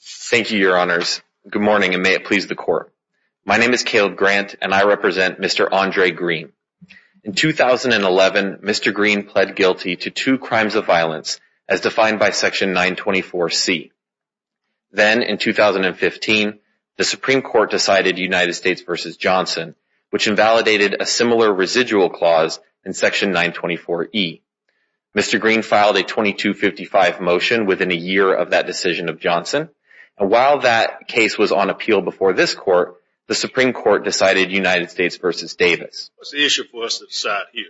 Thank you, your honors. Good morning, and may it please the court. My name is Caleb Grant, and I represent Mr. Andra Green. In 2011, Mr. Green pled guilty to two crimes of violence, as defined by Section 924C. Then, in 2015, the Supreme Court decided United States v. Johnson, which invalidated a similar residual clause in Section 924E. Mr. Green filed a 2255 motion within a year of that decision of Johnson. And while that case was on appeal before this court, the Supreme Court decided United States v. Davis. What's the issue for us to decide here?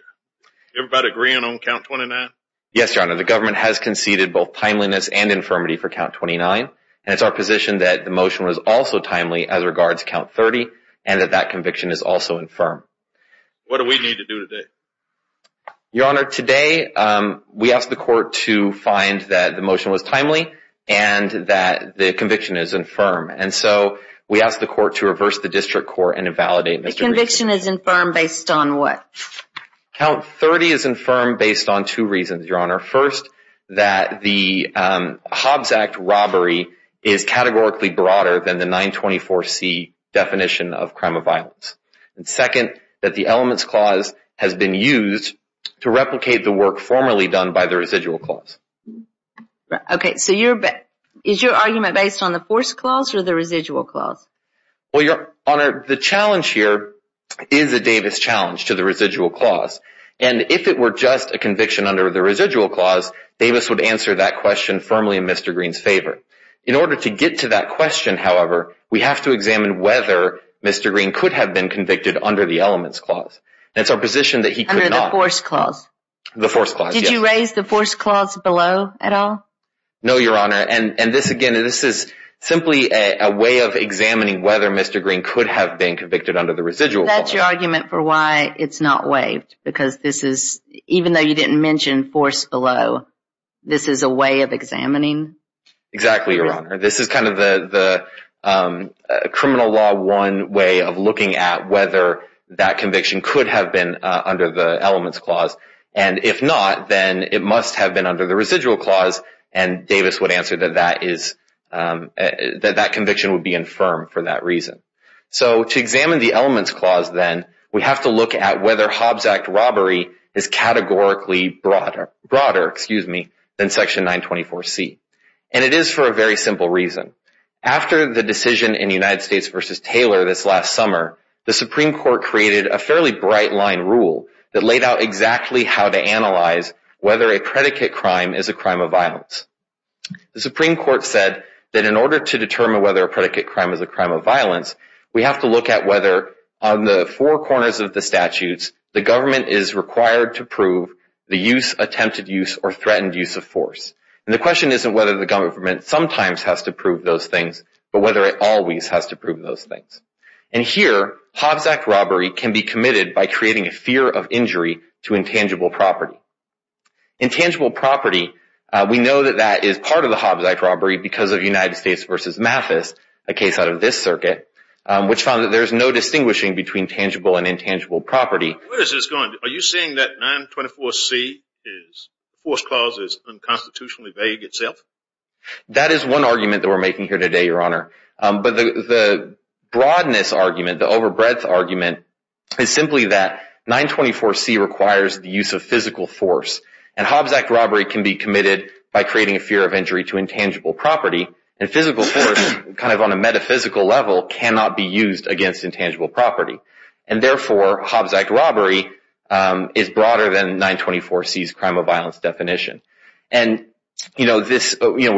Everybody agreeing on count 29? Yes, your honor. The government has conceded both timeliness and infirmity for count 29, and it's our position that the motion was also timely as regards count 30, and that that conviction is also infirm. What do we need to do today? Your honor, today we asked the court to find that the motion was timely and that the conviction is infirm. And so we asked the court to reverse the district court and invalidate Mr. Green's case. The conviction is infirm based on what? Count 30 is infirm based on two reasons, your honor. First, that the Hobbs Act robbery is categorically broader than the 924C definition of crime of to replicate the work formerly done by the residual clause. Okay, so is your argument based on the forced clause or the residual clause? Well, your honor, the challenge here is a Davis challenge to the residual clause. And if it were just a conviction under the residual clause, Davis would answer that question firmly in Mr. Green's favor. In order to get to that question, however, we have to examine whether Mr. Green could have been convicted under the elements clause. And it's our position that he could not. Under the forced clause? The forced clause, yes. Did you raise the forced clause below at all? No, your honor. And this again, this is simply a way of examining whether Mr. Green could have been convicted under the residual clause. That's your argument for why it's not waived? Because this is, even though you didn't mention forced below, this is a way of examining? Exactly, your honor. This is kind of the criminal law one way of looking at whether that conviction could have been under the elements clause. And if not, then it must have been under the residual clause. And Davis would answer that that conviction would be infirm for that reason. So to examine the elements clause then, we have to look at whether Hobbs Act robbery is categorically broader than Section 924C. And it is for a very simple reason. After the decision in United States v. Taylor this last summer, the Supreme Court created a fairly bright line rule that laid out exactly how to analyze whether a predicate crime is a crime of violence. The Supreme Court said that in order to determine whether a predicate crime is a crime of violence, we have to look at whether on the four corners of the statutes, the government is required to prove the use, attempted use, or threatened use of force. And the question isn't whether the government sometimes has to prove those things, but whether it always has to prove those things. And here, Hobbs Act robbery can be committed by creating a fear of injury to intangible property. Intangible property, we know that that is part of the Hobbs Act robbery because of United States v. Mathis, a case out of this circuit, which found that there is no distinguishing between tangible and intangible property. Where is this going? Are you saying that 924C, the force clause, is unconstitutionally vague itself? That is one argument that we're making here today, Your Honor. But the broadness argument, the over breadth argument, is simply that 924C requires the use of physical force. And Hobbs Act robbery can be committed by creating a fear of injury to intangible property. And physical force, kind of on a metaphysical level, cannot be used against intangible property. And therefore, Hobbs Act robbery is broader than 924C's crime of violence definition. And we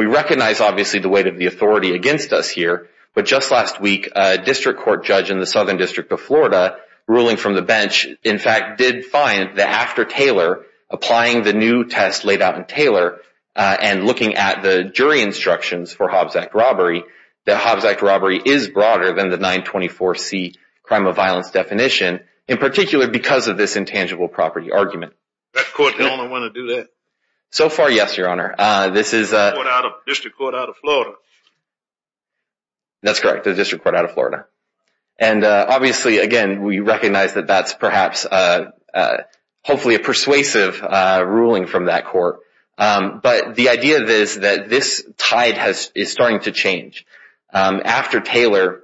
recognize, obviously, the weight of the authority against us here. But just last week, a district court judge in the Southern District of Florida, ruling from the bench, in fact, did find that after Taylor, applying the new test laid out in Taylor, and looking at the jury instructions for Hobbs Act robbery, that Hobbs Act robbery is broader than the 924C crime of violence definition. In particular, because of this intangible property argument. That court the only one to do that? So far, yes, Your Honor. This is a district court out of Florida. That's correct, a district court out of Florida. And obviously, again, we recognize that that's perhaps hopefully a persuasive ruling from that court. But the idea is that this tide is starting to change. After Taylor,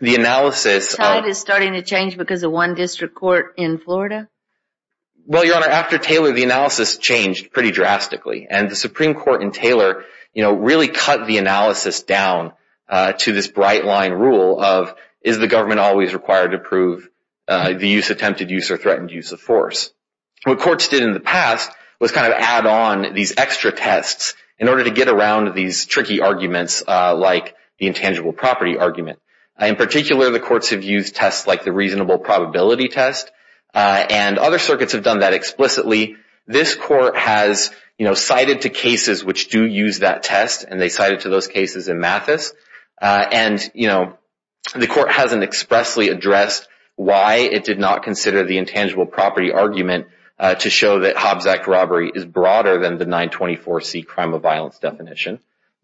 the analysis... The tide is starting to change because of one district court in Florida? Well, Your Honor, after Taylor, the analysis changed pretty drastically. And the Supreme Court in Taylor, you know, really cut the analysis down to this bright line rule of, is the government always required to prove the use of attempted use or threatened use of force? What courts did in the past was kind of add on these extra tests in order to get around these tricky arguments like the intangible property argument. In particular, the courts have used tests like the reasonable probability test. And other circuits have done that explicitly. This court has, you know, cited to cases which do use that test. And they cited to those cases in Mathis. And, you know, the court hasn't expressly addressed why it did not consider the intangible property argument to show that Hobbs Act robbery is broader than the 924C crime of violence definition.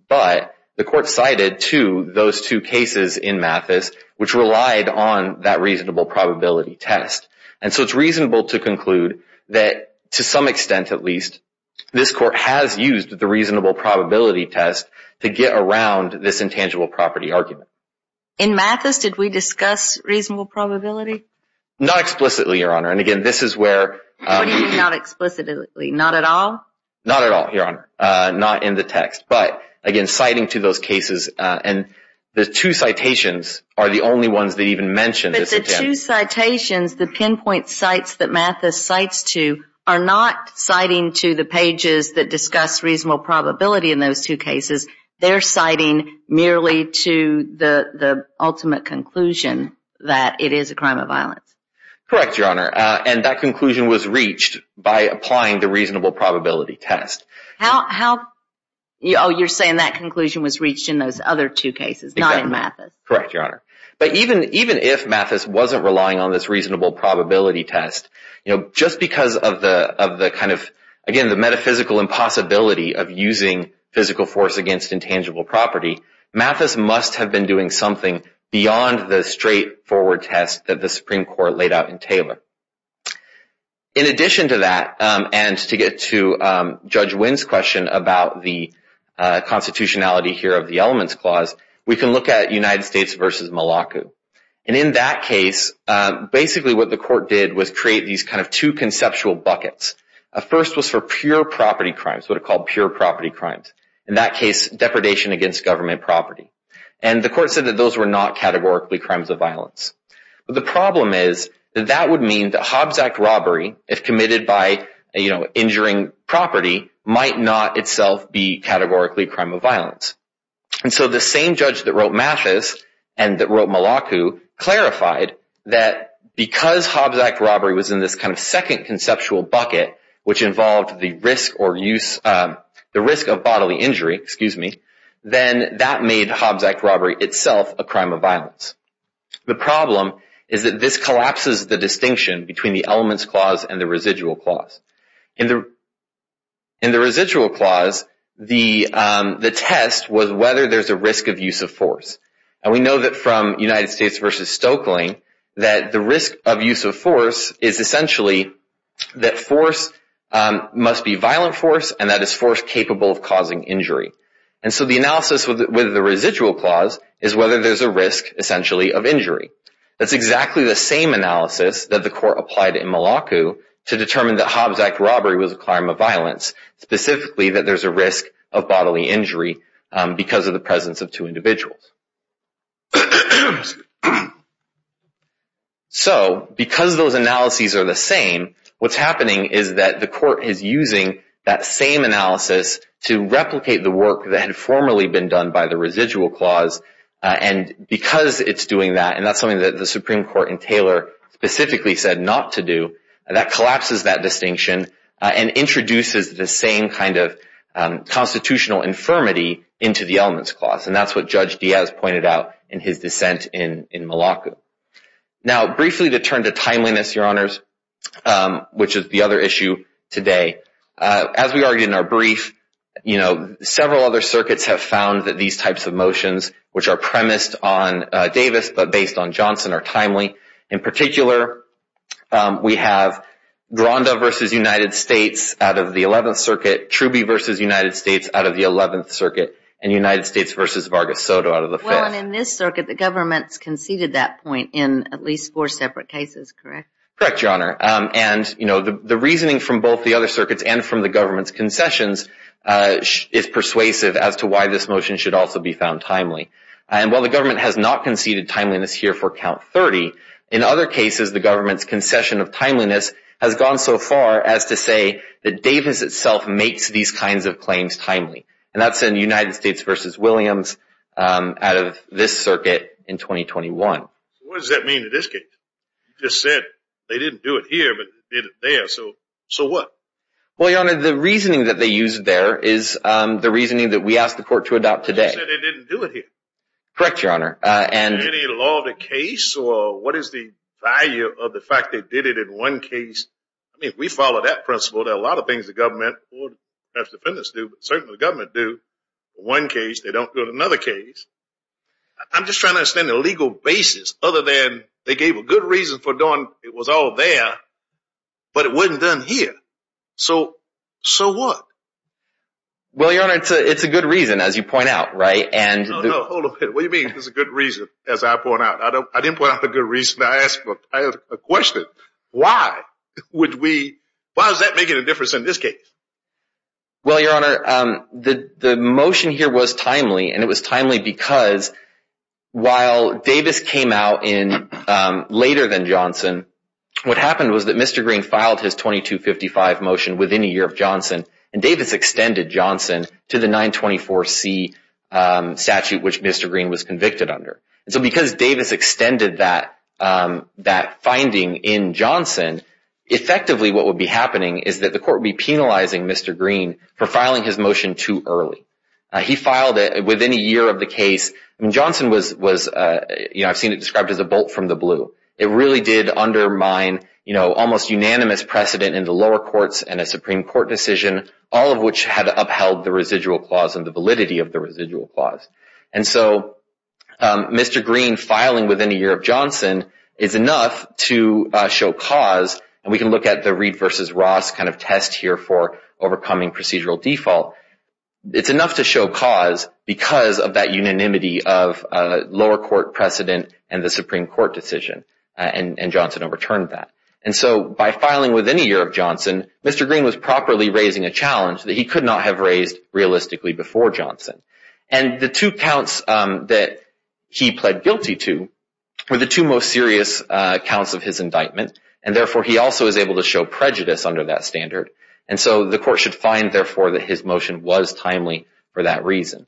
But the court cited to those two cases in Mathis which relied on that reasonable probability test. And so it's reasonable to conclude that, to some extent at least, this court has used the reasonable probability test to get around this intangible property argument. In Mathis, did we discuss reasonable probability? Not explicitly, Your Honor. And again, this is where... What do you mean not explicitly? Not at all? Not at all, Your Honor. Not in the text. But again, citing to those cases. And the two citations are the only ones that even mention this attempt. But the two citations, the pinpoint sites that Mathis cites to, are not citing to the pages that discuss reasonable probability in those two cases. They're citing merely to the ultimate conclusion that it is a crime of violence. Correct, Your Honor. And that conclusion was reached by applying the reasonable probability test. You're saying that conclusion was reached in those other two cases, not in Mathis. Correct, Your Honor. But even if Mathis wasn't relying on this reasonable probability test, just because of the metaphysical impossibility of using physical force against intangible property, Mathis must have been doing something beyond the straightforward test that the Supreme Court laid out in Taylor. In addition to that, and to get to Judge Wynn's question about the constitutionality here of the Elements Clause, we can look at United States v. Malacu. And in that case, basically what the court did was create these kind of two conceptual buckets. A first was for pure property crimes, what are called pure property crimes. In that case, depredation against government property. And the court said that those were not categorically crimes of violence. But the problem is that that would mean that Hobbs Act robbery, if committed by injuring property, might not itself be categorically a crime of violence. And so the same judge that wrote Mathis, and that wrote Malacu, clarified that because Hobbs Act robbery was in this kind of second conceptual bucket, which involved the risk of bodily injury, then that made Hobbs Act robbery itself a crime of violence. The problem is that this collapses the distinction between the Elements Clause and the Residual Clause. In the Residual Clause, the test was whether there's a risk of use of force. And we know that from United States v. Stokely, that the risk of use of force is essentially that force must be violent force, and that is force capable of causing injury. And so the analysis with the Residual Clause is whether there's a risk, essentially, of injury. That's exactly the same analysis that the court applied in Malacu to determine that Hobbs Act robbery was a crime of violence, specifically that there's a risk of bodily injury because of the presence of two individuals. So because those analyses are the same, what's happening is that the court is using that same analysis to replicate the work that had formerly been done by the Residual Clause. And because it's doing that, and that's something that the Supreme Court in Taylor specifically said not to do, that collapses that distinction and introduces the same kind of constitutional infirmity into the Elements Clause. And that's what Judge Diaz pointed out in his dissent in Malacu. Now, briefly to turn to timeliness, Your Honors, which is the other issue today, as we argued in our brief, several other circuits have found that these types of motions, which are premised on Davis but based on Johnson, are timely. In particular, we have Gronda v. United States out of the 11th Circuit, Truby v. United States out of the 11th Circuit, and United States v. Vargas Soto out of the 5th. Well, and in this circuit, the government's conceded that point in at least four separate cases, correct? Correct, Your Honor. And, you know, the reasoning from both the other circuits and from the government's concessions is persuasive as to why this motion should also be found timely. And while the government has not conceded timeliness here for Count 30, in other cases, the government's concession of timeliness has gone so far as to say that Davis itself makes these kinds of claims timely. And that's in United States v. Williams out of this circuit in 2021. What does that mean in this case? You just said they didn't do it here, but they did it there. So what? Well, Your Honor, the reasoning that they used there is the reasoning that we asked the court to adopt today. You just said they didn't do it here. Correct, Your Honor. Is there any law of the case, or what is the value of the fact they did it in one case? I mean, if we follow that principle, there are a lot of things the government or perhaps the defendants do, but certainly the government do in one case. They don't do it in another case. I'm just trying to understand the legal basis, other than they gave a good reason for doing it was all there, but it wasn't done here. So, so what? Well, Your Honor, it's a good reason, as you point out, right? No, no, hold a minute. What do you mean it's a good reason, as I point out? I didn't point out the good reason. I asked a question. Why would we, why is that making a difference in this case? Well, Your Honor, the motion here was timely, and it was timely because while Davis came out in later than Johnson, what happened was that Mr. Green filed his 2255 motion within a year of Johnson, and Davis extended Johnson to the 924C statute, which Mr. Green was convicted under. So because Davis extended that finding in Johnson, effectively what would be happening is that the court would be penalizing Mr. Green for filing his motion too early. He filed it within a year of the case. I mean, Johnson was, you know, I've seen it described as a bolt from the blue. It really did undermine, you know, almost unanimous precedent in the lower courts and a Supreme Court decision, all of which had upheld the residual clause and the validity of the residual clause. And so Mr. Green filing within a year of Johnson is enough to show cause, and we can look at the Reed v. Ross kind of test here for overcoming procedural default. It's enough to show cause because of that unanimity of lower court precedent and the Supreme Court decision, and Johnson overturned that. And so by filing within a year of Johnson, Mr. Green was properly raising a challenge that he could not have raised realistically before Johnson. And the two counts that he pled guilty to were the two most serious counts of his indictment, and therefore he also was able to show prejudice under that standard. And so the court should find, therefore, that his motion was timely for that reason.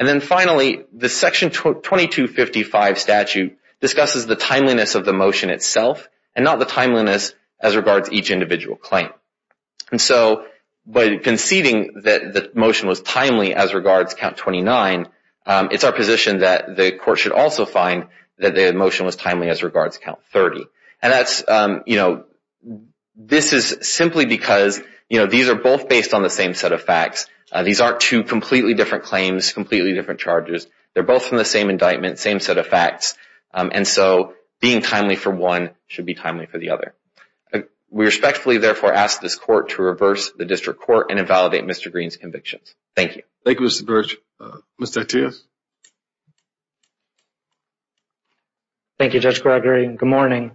And then finally, the Section 2255 statute discusses the timeliness of the motion itself and not the timeliness as regards each individual claim. And so by conceding that the motion was timely as regards Count 29, it's our position that the court should also find that the motion was timely as regards Count 30. And that's, you know, this is simply because, you know, these are both based on the same set of facts. These aren't two completely different claims, completely different charges. They're both from the same indictment, same set of facts. And so being timely for one should be timely for the other. We respectfully, therefore, ask this court to reverse the district court and invalidate Mr. Green's convictions. Thank you. Thank you, Mr. Birch. Mr. Attia. Thank you, Judge Gregory. Good morning.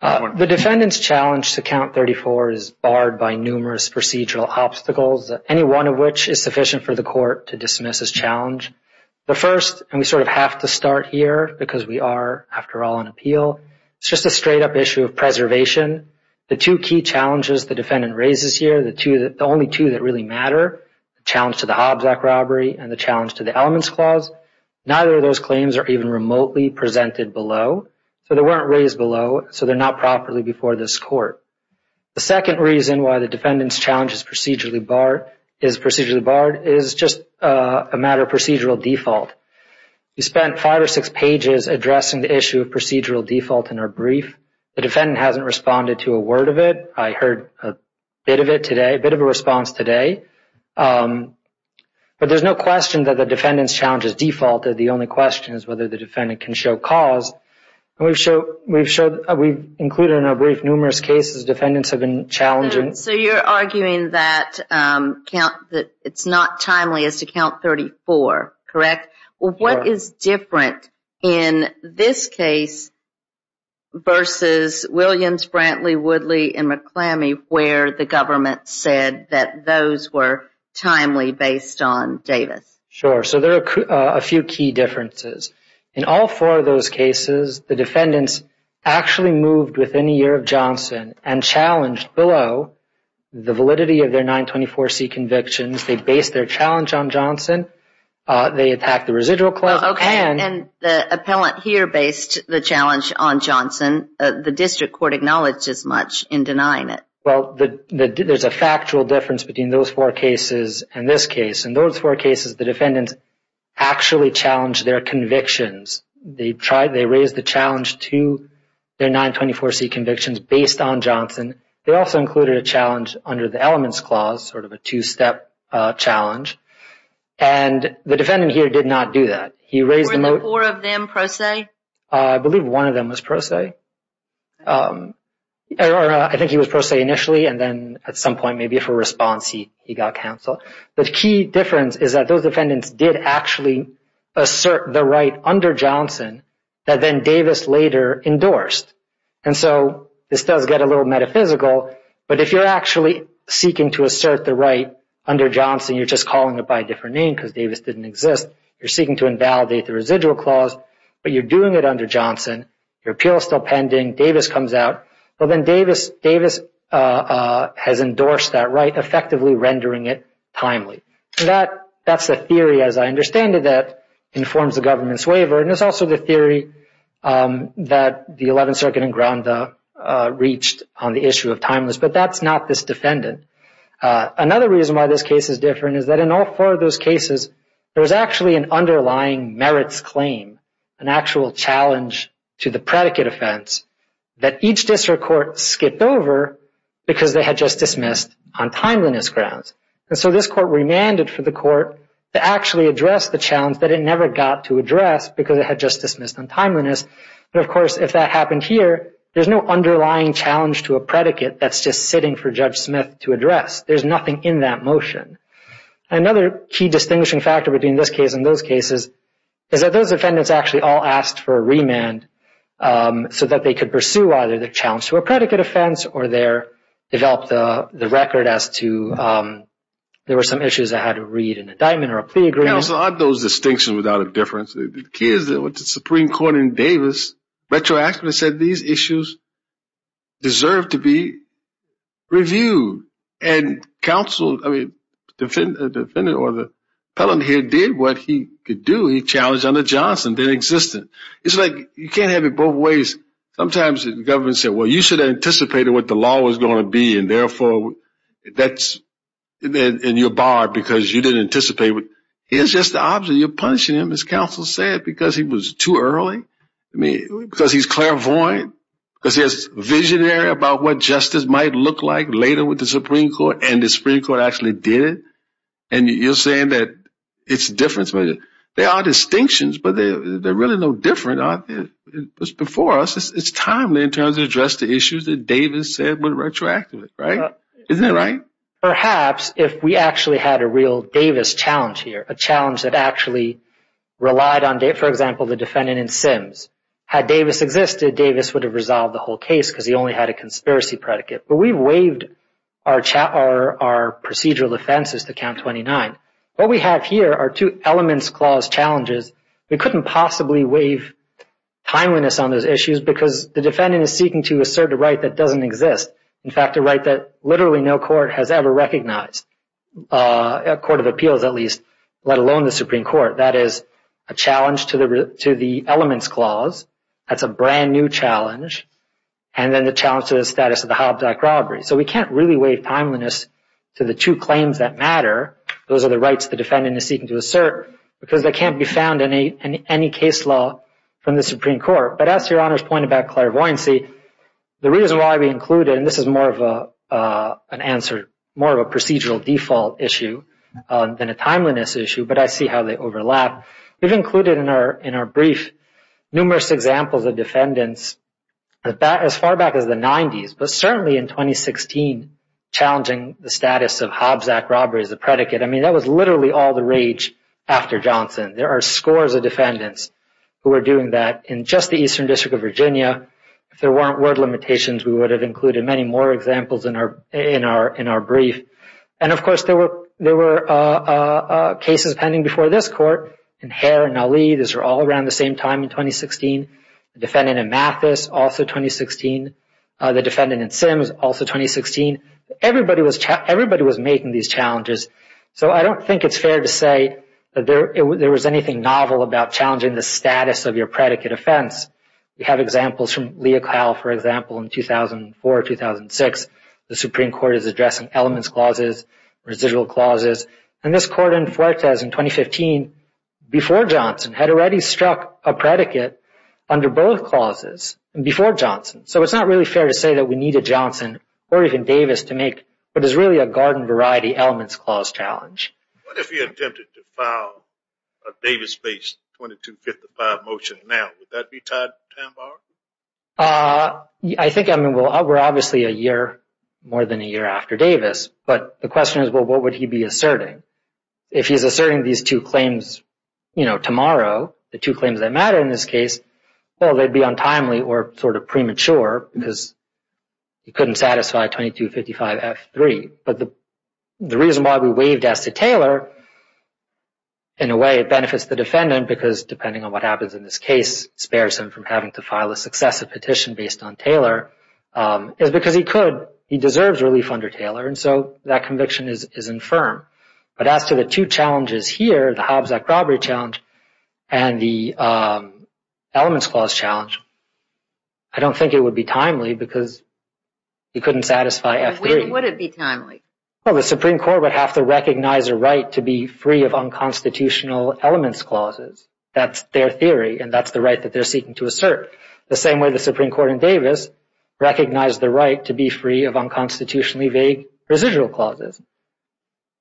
The defendant's challenge to Count 34 is barred by numerous procedural obstacles, any one of which is sufficient for the court to dismiss as challenge. The first, and we sort of have to start here because we are, after all, on appeal, is just a straight-up issue of preservation. The two key challenges the defendant raises here, the only two that really matter, the challenge to the Hobbs Act robbery and the challenge to the Elements Clause, neither of those claims are even remotely presented below. So they weren't raised below, so they're not properly before this court. The second reason why the defendant's challenge is procedurally barred is just a matter of procedural default. We spent five or six pages addressing the issue of procedural default in our brief. The defendant hasn't responded to a word of it. I heard a bit of it today, a bit of a response today. But there's no question that the defendant's challenge is defaulted. The only question is whether the defendant can show cause. We've included in our brief numerous cases defendants have been challenging. So you're arguing that it's not timely as to Count 34, correct? What is different in this case versus Williams, Brantley, Woodley, and McClammy, where the government said that those were timely based on Davis? Sure. So there are a few key differences. In all four of those cases, the defendants actually moved within a year of Johnson and challenged below the validity of their 924C convictions. They based their challenge on Johnson. They attacked the residual clause. And the district court acknowledged as much in denying it. Well, there's a factual difference between those four cases and this case. In those four cases, the defendants actually challenged their convictions. They raised the challenge to their 924C convictions based on Johnson. They also included a challenge under the elements clause, sort of a two-step challenge. And the defendant here did not do that. Were there four of them pro se? I believe one of them was pro se. I think he was pro se initially, and then at some point maybe for response he got counsel. The key difference is that those defendants did actually assert the right under Johnson that then Davis later endorsed. And so this does get a little metaphysical, but if you're actually seeking to assert the right under Johnson, you're just calling it by a different name because Davis didn't exist. You're seeking to invalidate the residual clause, but you're doing it under Johnson. Your appeal is still pending. Davis comes out. Well, then Davis has endorsed that right, effectively rendering it timely. That's the theory, as I understand it, that informs the government's waiver. And it's also the theory that the 11th Circuit and Gronda reached on the issue of timeless, but that's not this defendant. Another reason why this case is different is that in all four of those cases there was actually an underlying merits claim, an actual challenge to the predicate offense, that each district court skipped over because they had just dismissed on timeliness grounds. And so this court remanded for the court to actually address the challenge that it never got to address because it had just dismissed on timeliness. And, of course, if that happened here, there's no underlying challenge to a predicate that's just sitting for Judge Smith to address. There's nothing in that motion. Another key distinguishing factor between this case and those cases is that those defendants actually all asked for a remand so that they could pursue either the challenge to a predicate offense or develop the record as to there were some issues that had to read an indictment or a plea agreement. Counsel, aren't those distinctions without a difference? The key is that with the Supreme Court in Davis retroactively said these issues deserve to be reviewed. And counsel, I mean, the defendant or the appellant here did what he could do. He challenged under Johnson that existed. It's like you can't have it both ways. Sometimes the government said, well, you should have anticipated what the law was going to be and therefore that's in your bar because you didn't anticipate it. Here's just the opposite. You're punishing him, as counsel said, because he was too early, because he's clairvoyant, because he's visionary about what justice might look like later with the Supreme Court, and the Supreme Court actually did it. And you're saying that it's different. There are distinctions, but they're really no different. It was before us. It's timely in terms of addressing the issues that Davis said were retroactive, right? Isn't that right? Perhaps if we actually had a real Davis challenge here, a challenge that actually relied on, for example, the defendant in Sims, had Davis existed, Davis would have resolved the whole case because he only had a conspiracy predicate. But we've waived our procedural offenses to count 29. What we have here are two elements clause challenges. We couldn't possibly waive timeliness on those issues because the defendant is seeking to assert a right that doesn't exist, in fact, a right that literally no court has ever recognized, a court of appeals at least, let alone the Supreme Court. That is a challenge to the elements clause. That's a brand-new challenge. And then the challenge to the status of the Hobbs Act robbery. So we can't really waive timeliness to the two claims that matter. Those are the rights the defendant is seeking to assert because they can't be found in any case law from the Supreme Court. But as Your Honor's point about clairvoyancy, the reason why we include it, and this is more of an answer, more of a procedural default issue than a timeliness issue, but I see how they overlap. We've included in our brief numerous examples of defendants as far back as the 90s, but certainly in 2016 challenging the status of Hobbs Act robbery as a predicate. I mean, that was literally all the rage after Johnson. There are scores of defendants who were doing that in just the Eastern District of Virginia. If there weren't word limitations, we would have included many more examples in our brief. And, of course, there were cases pending before this Court in Hare and Ali. These were all around the same time in 2016. The defendant in Mathis, also 2016. The defendant in Sims, also 2016. Everybody was making these challenges. So I don't think it's fair to say that there was anything novel about challenging the status of your predicate offense. We have examples from Lea Kyle, for example, in 2004, 2006. The Supreme Court is addressing elements clauses, residual clauses. And this Court in Fuertes in 2015, before Johnson, had already struck a predicate under both clauses before Johnson. So it's not really fair to say that we needed Johnson or even Davis to make what is really a garden variety elements clause challenge. What if you attempted to file a Davis-based 2255 motion now? Would that be time-barred? I think, I mean, we're obviously a year, more than a year after Davis. But the question is, well, what would he be asserting? If he's asserting these two claims, you know, tomorrow, the two claims that matter in this case, well, they'd be untimely or sort of premature because he couldn't satisfy 2255-F-3. But the reason why we waived S to Taylor, in a way, it benefits the defendant because, depending on what happens in this case, spares him from having to file a successive petition based on Taylor, is because he could. He deserves relief under Taylor. And so that conviction is infirm. But as to the two challenges here, the Hobbs Act Robbery Challenge and the Elements Clause Challenge, I don't think it would be timely because he couldn't satisfy F-3. Why would it be timely? Well, the Supreme Court would have to recognize a right to be free of unconstitutional elements clauses. That's their theory, and that's the right that they're seeking to assert. The same way the Supreme Court in Davis recognized the right to be free of unconstitutionally vague residual clauses.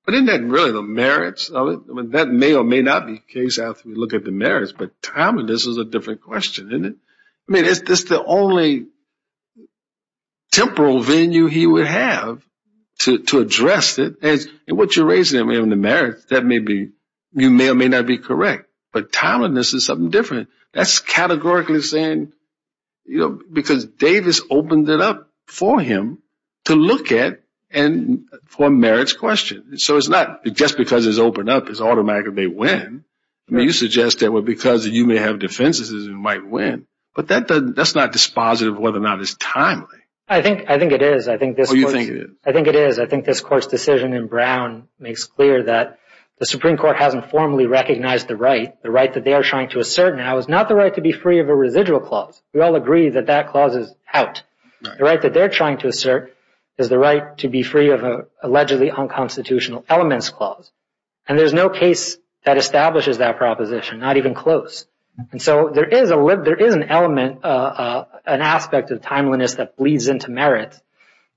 But isn't that really the merits of it? I mean, that may or may not be the case after we look at the merits. But timing, this is a different question, isn't it? I mean, is this the only temporal venue he would have to address it? And what you're raising on the merits, that may or may not be correct. But timeliness is something different. That's categorically saying because Davis opened it up for him to look at for a merits question. So it's not just because it's opened up, it's automatically a win. I mean, you suggest that because you may have defenses, it might win. But that's not dispositive of whether or not it's timely. I think it is. Oh, you think it is? I think it is. I think this Court's decision in Brown makes clear that the Supreme Court hasn't formally recognized the right. The right that they are trying to assert now is not the right to be free of a residual clause. We all agree that that clause is out. The right that they're trying to assert is the right to be free of an allegedly unconstitutional elements clause. And there's no case that establishes that proposition, not even close. And so there is an element, an aspect of timeliness that bleeds into merits.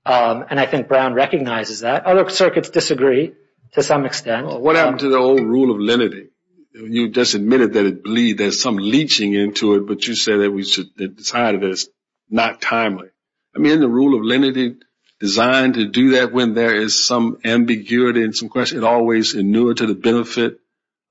And I think Brown recognizes that. Other circuits disagree to some extent. What happened to the old rule of lenity? You just admitted that it bleeds, there's some leeching into it, but you said that we should decide that it's not timely. I mean, the rule of lenity designed to do that when there is some ambiguity and some question, it always inured to the benefit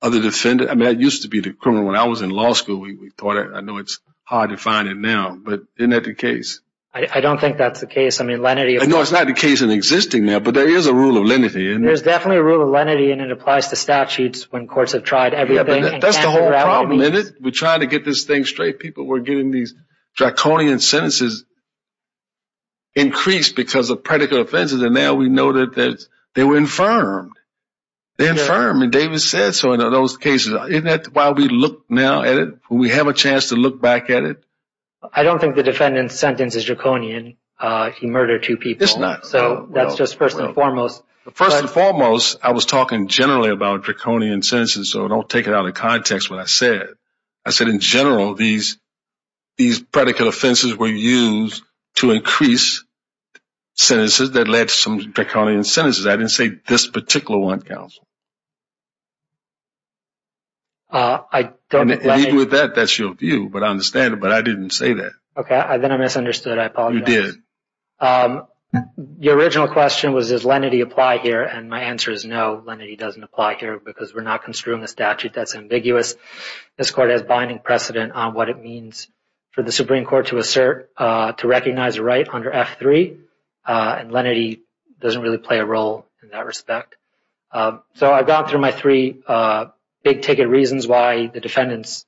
of the defendant. I mean, I used to be the criminal when I was in law school. I know it's hard to find it now, but isn't that the case? I don't think that's the case. I mean, lenity is. No, it's not the case in existing now, but there is a rule of lenity. There's definitely a rule of lenity, and it applies to statutes when courts have tried everything. Yeah, but that's the whole problem, isn't it? We're trying to get this thing straight. People were getting these draconian sentences increased because of predicate offenses, and now we know that they were infirmed. They're infirmed, and David said so in those cases. Isn't that why we look now at it, when we have a chance to look back at it? I don't think the defendant's sentence is draconian. He murdered two people. It's not. So that's just first and foremost. First and foremost, I was talking generally about draconian sentences, so don't take it out of context what I said. I said, in general, these predicate offenses were used to increase sentences that led to some draconian sentences. I didn't say this particular one, counsel. Even with that, that's your view, but I understand it. But I didn't say that. Okay, then I misunderstood. I apologize. You did. Your original question was, does lenity apply here? And my answer is no, lenity doesn't apply here because we're not construing a statute. That's ambiguous. This court has binding precedent on what it means for the Supreme Court to assert to recognize a right under F-3, and lenity doesn't really play a role in that respect. So I've gone through my three big-ticket reasons why the defendant's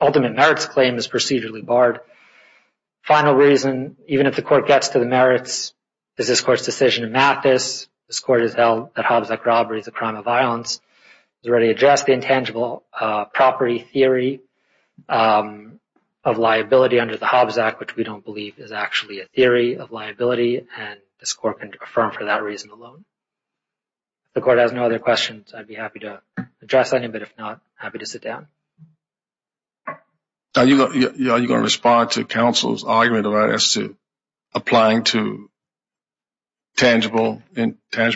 ultimate merits claim is procedurally barred. Final reason, even if the court gets to the merits, is this court's decision in Mathis. This court has held that Hobbes Act robbery is a crime of violence. It already addressed the intangible property theory of liability under the Hobbes Act, which we don't believe is actually a theory of liability, and this court can affirm for that reason alone. If the court has no other questions, I'd be happy to address any, but if not, happy to sit down. Are you going to respond to counsel's argument about us applying to tangible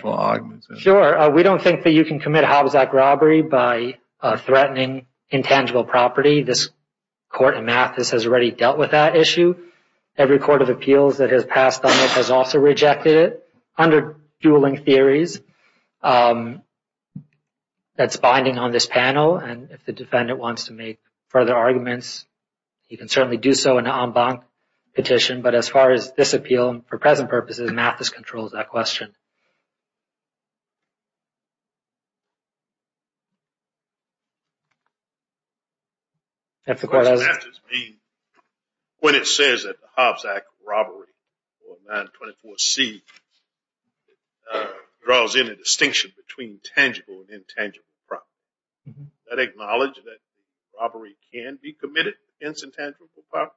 arguments? Sure. We don't think that you can commit a Hobbes Act robbery by threatening intangible property. This court in Mathis has already dealt with that issue. Every court of appeals that has passed on it has also rejected it under dueling theories. That's binding on this panel, and if the defendant wants to make further arguments, he can certainly do so in an en banc petition. But as far as this appeal, for present purposes, Mathis controls that question. When it says that the Hobbes Act robbery, or 924C, draws in a distinction between tangible and intangible property, does that acknowledge that robbery can be committed against intangible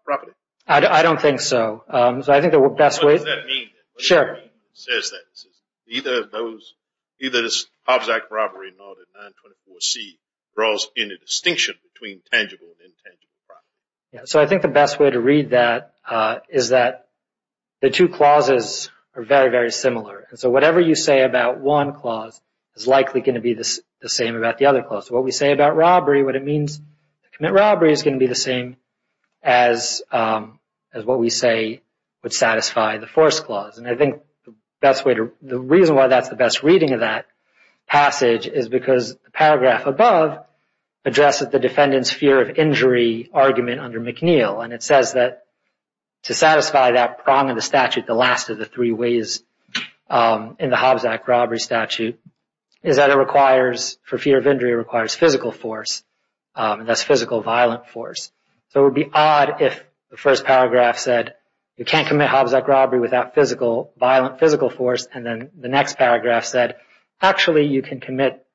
property? I don't think so. What does that mean? It says that neither the Hobbes Act robbery nor the 924C draws in a distinction between tangible and intangible property. So I think the best way to read that is that the two clauses are very, very similar. So whatever you say about one clause is likely going to be the same about the other clause. What we say about robbery, what it means to commit robbery, is going to be the same as what we say would satisfy the force clause. I think the reason why that's the best reading of that passage is because the paragraph above addresses the defendant's fear of injury argument under McNeil. It says that to satisfy that prong of the statute, the last of the three ways in the Hobbes Act robbery statute, is that it requires, for fear of injury, requires physical force, and that's physical violent force. So it would be odd if the first paragraph said, you can't commit Hobbes Act robbery without physical, violent physical force, and then the next paragraph said, actually you can commit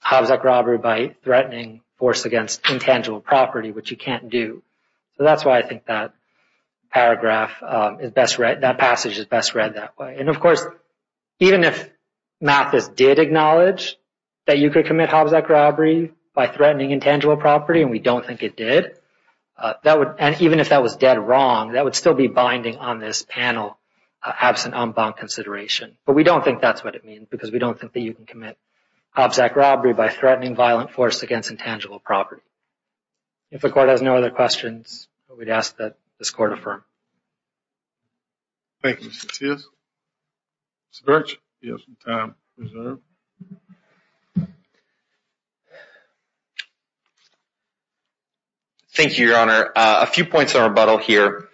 Hobbes Act robbery by threatening force against intangible property, which you can't do. So that's why I think that paragraph is best read, that passage is best read that way. And, of course, even if Mathis did acknowledge that you could commit Hobbes Act robbery by threatening intangible property, and we don't think it did, and even if that was dead wrong, that would still be binding on this panel absent en banc consideration. But we don't think that's what it means because we don't think that you can commit Hobbes Act robbery by threatening violent force against intangible property. If the Court has no other questions, I would ask that this Court affirm. Thank you, Mr. Tis. Mr. Birch, you have some time reserved. Thank you, Your Honor. A few points of rebuttal here.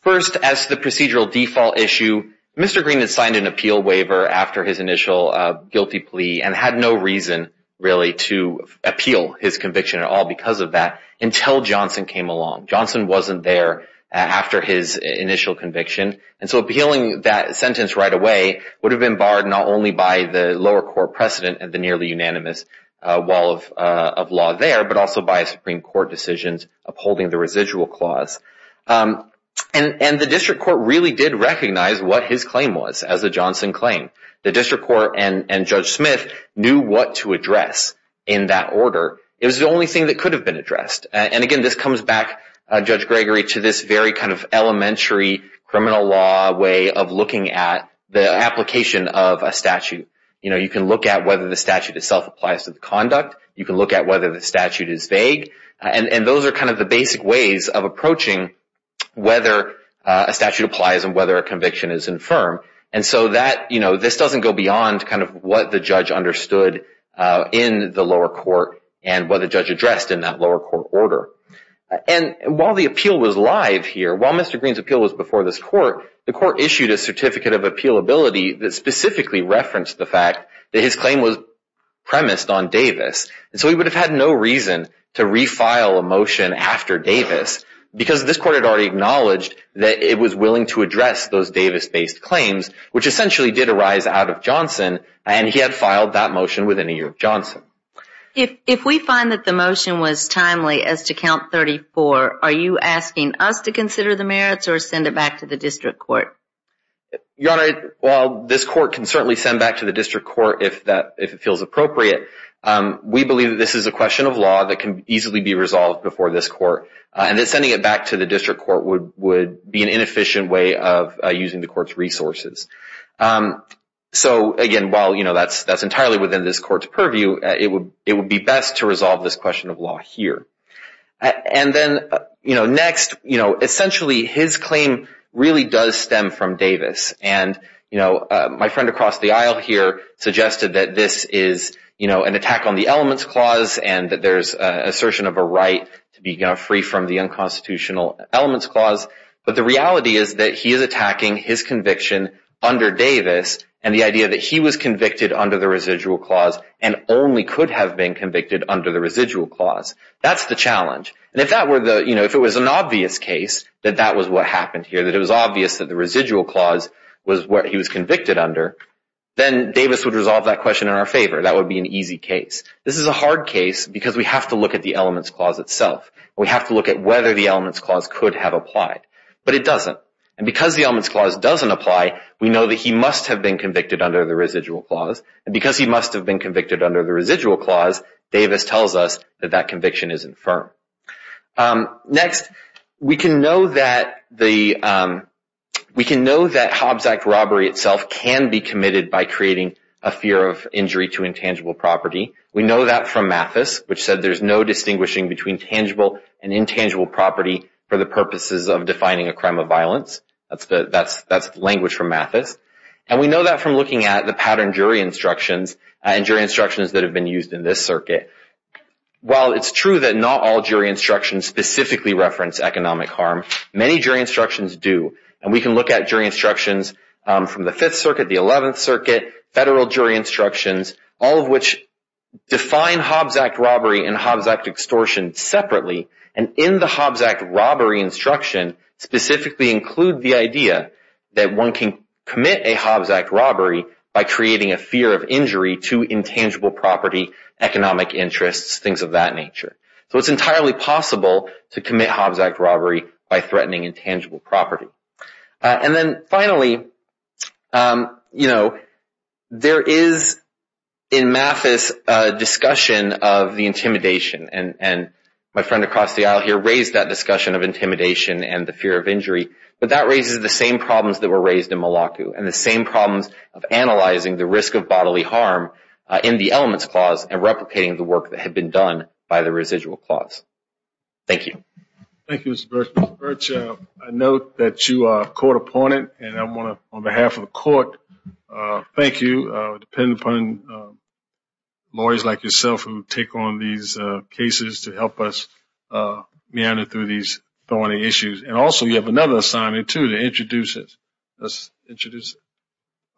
First, as to the procedural default issue, Mr. Green had signed an appeal waiver after his initial guilty plea and had no reason really to appeal his conviction at all because of that until Johnson came along. Johnson wasn't there after his initial conviction. And so appealing that sentence right away would have been barred not only by the lower court precedent and the nearly unanimous wall of law there, but also by a Supreme Court decision upholding the residual clause. And the District Court really did recognize what his claim was as a Johnson claim. The District Court and Judge Smith knew what to address in that order. It was the only thing that could have been addressed. And, again, this comes back, Judge Gregory, to this very kind of elementary criminal law way of looking at the application of a statute. You know, you can look at whether the statute itself applies to the conduct. You can look at whether the statute is vague. And those are kind of the basic ways of approaching whether a statute applies and whether a conviction is infirm. And so that, you know, this doesn't go beyond kind of what the judge understood in the lower court and what the judge addressed in that lower court order. And while the appeal was live here, while Mr. Green's appeal was before this court, the court issued a certificate of appealability that specifically referenced the fact that his claim was premised on Davis. And so he would have had no reason to refile a motion after Davis because this court had already acknowledged that it was willing to address those Davis-based claims, which essentially did arise out of Johnson, and he had filed that motion within a year of Johnson. If we find that the motion was timely as to Count 34, are you asking us to consider the merits or send it back to the district court? Your Honor, while this court can certainly send it back to the district court if it feels appropriate, we believe that this is a question of law that can easily be resolved before this court. And that sending it back to the district court would be an inefficient way of using the court's resources. So again, while, you know, that's entirely within this court's purview, it would be best to resolve this question of law here. And then, you know, next, you know, essentially his claim really does stem from Davis. And, you know, my friend across the aisle here suggested that this is, you know, an attack on the elements clause and that there's an assertion of a right to be free from the unconstitutional elements clause. But the reality is that he is attacking his conviction under Davis and the idea that he was convicted under the residual clause and only could have been convicted under the residual clause. That's the challenge. And if that were the, you know, if it was an obvious case that that was what happened here, that it was obvious that the residual clause was what he was convicted under, then Davis would resolve that question in our favor. That would be an easy case. This is a hard case because we have to look at the elements clause itself. We have to look at whether the elements clause could have applied. But it doesn't. And because the elements clause doesn't apply, we know that he must have been convicted under the residual clause. And because he must have been convicted under the residual clause, Davis tells us that that conviction isn't firm. Next, we can know that the, we can know that Hobbs Act robbery itself can be committed by creating a fear of injury to intangible property. We know that from Mathis, which said there's no distinguishing between tangible and intangible property for the purposes of defining a crime of violence. That's language from Mathis. And we know that from looking at the pattern jury instructions and jury instructions that have been used in this circuit. While it's true that not all jury instructions specifically reference economic harm, many jury instructions do. And we can look at jury instructions from the Fifth Circuit, the Eleventh Circuit, federal jury instructions, all of which define Hobbs Act robbery and Hobbs Act extortion separately. And in the Hobbs Act robbery instruction, specifically include the idea that one can commit a Hobbs Act robbery by creating a fear of injury to intangible property, economic interests, things of that nature. So it's entirely possible to commit Hobbs Act robbery by threatening intangible property. And then finally, you know, there is in Mathis a discussion of the intimidation. And my friend across the aisle here raised that discussion of intimidation and the fear of injury. But that raises the same problems that were raised in Malacu and the same problems of analyzing the risk of bodily harm in the elements clause and replicating the work that had been done by the residual clause. Thank you. Thank you, Mr. Birch. I note that you are a court opponent. And I want to, on behalf of the court, thank you. Depending upon lawyers like yourself who take on these cases to help us meander through these thorny issues. And also you have another assignee too to introduce us. Let's introduce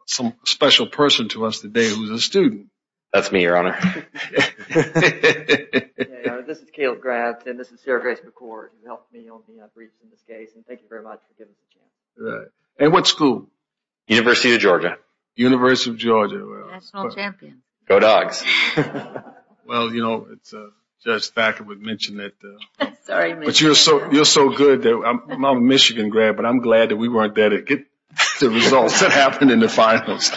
some special person to us today who's a student. That's me, Your Honor. This is Caleb Grant and this is Sarah Grace McCord who helped me on the briefs in this case. And thank you very much for giving me a chance. And what school? University of Georgia. University of Georgia. National champion. Go Dawgs. Well, you know, Judge Thacker would mention that. Sorry. But you're so good. I'm a Michigan grad, but I'm glad that we weren't there to get the results that happened in the finals.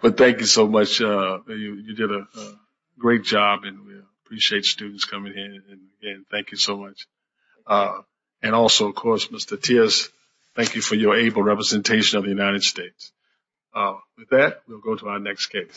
But thank you so much. You did a great job and we appreciate students coming in. And thank you so much. And also, of course, Mr. Tierce, thank you for your able representation of the United States. With that, we'll go to our next case.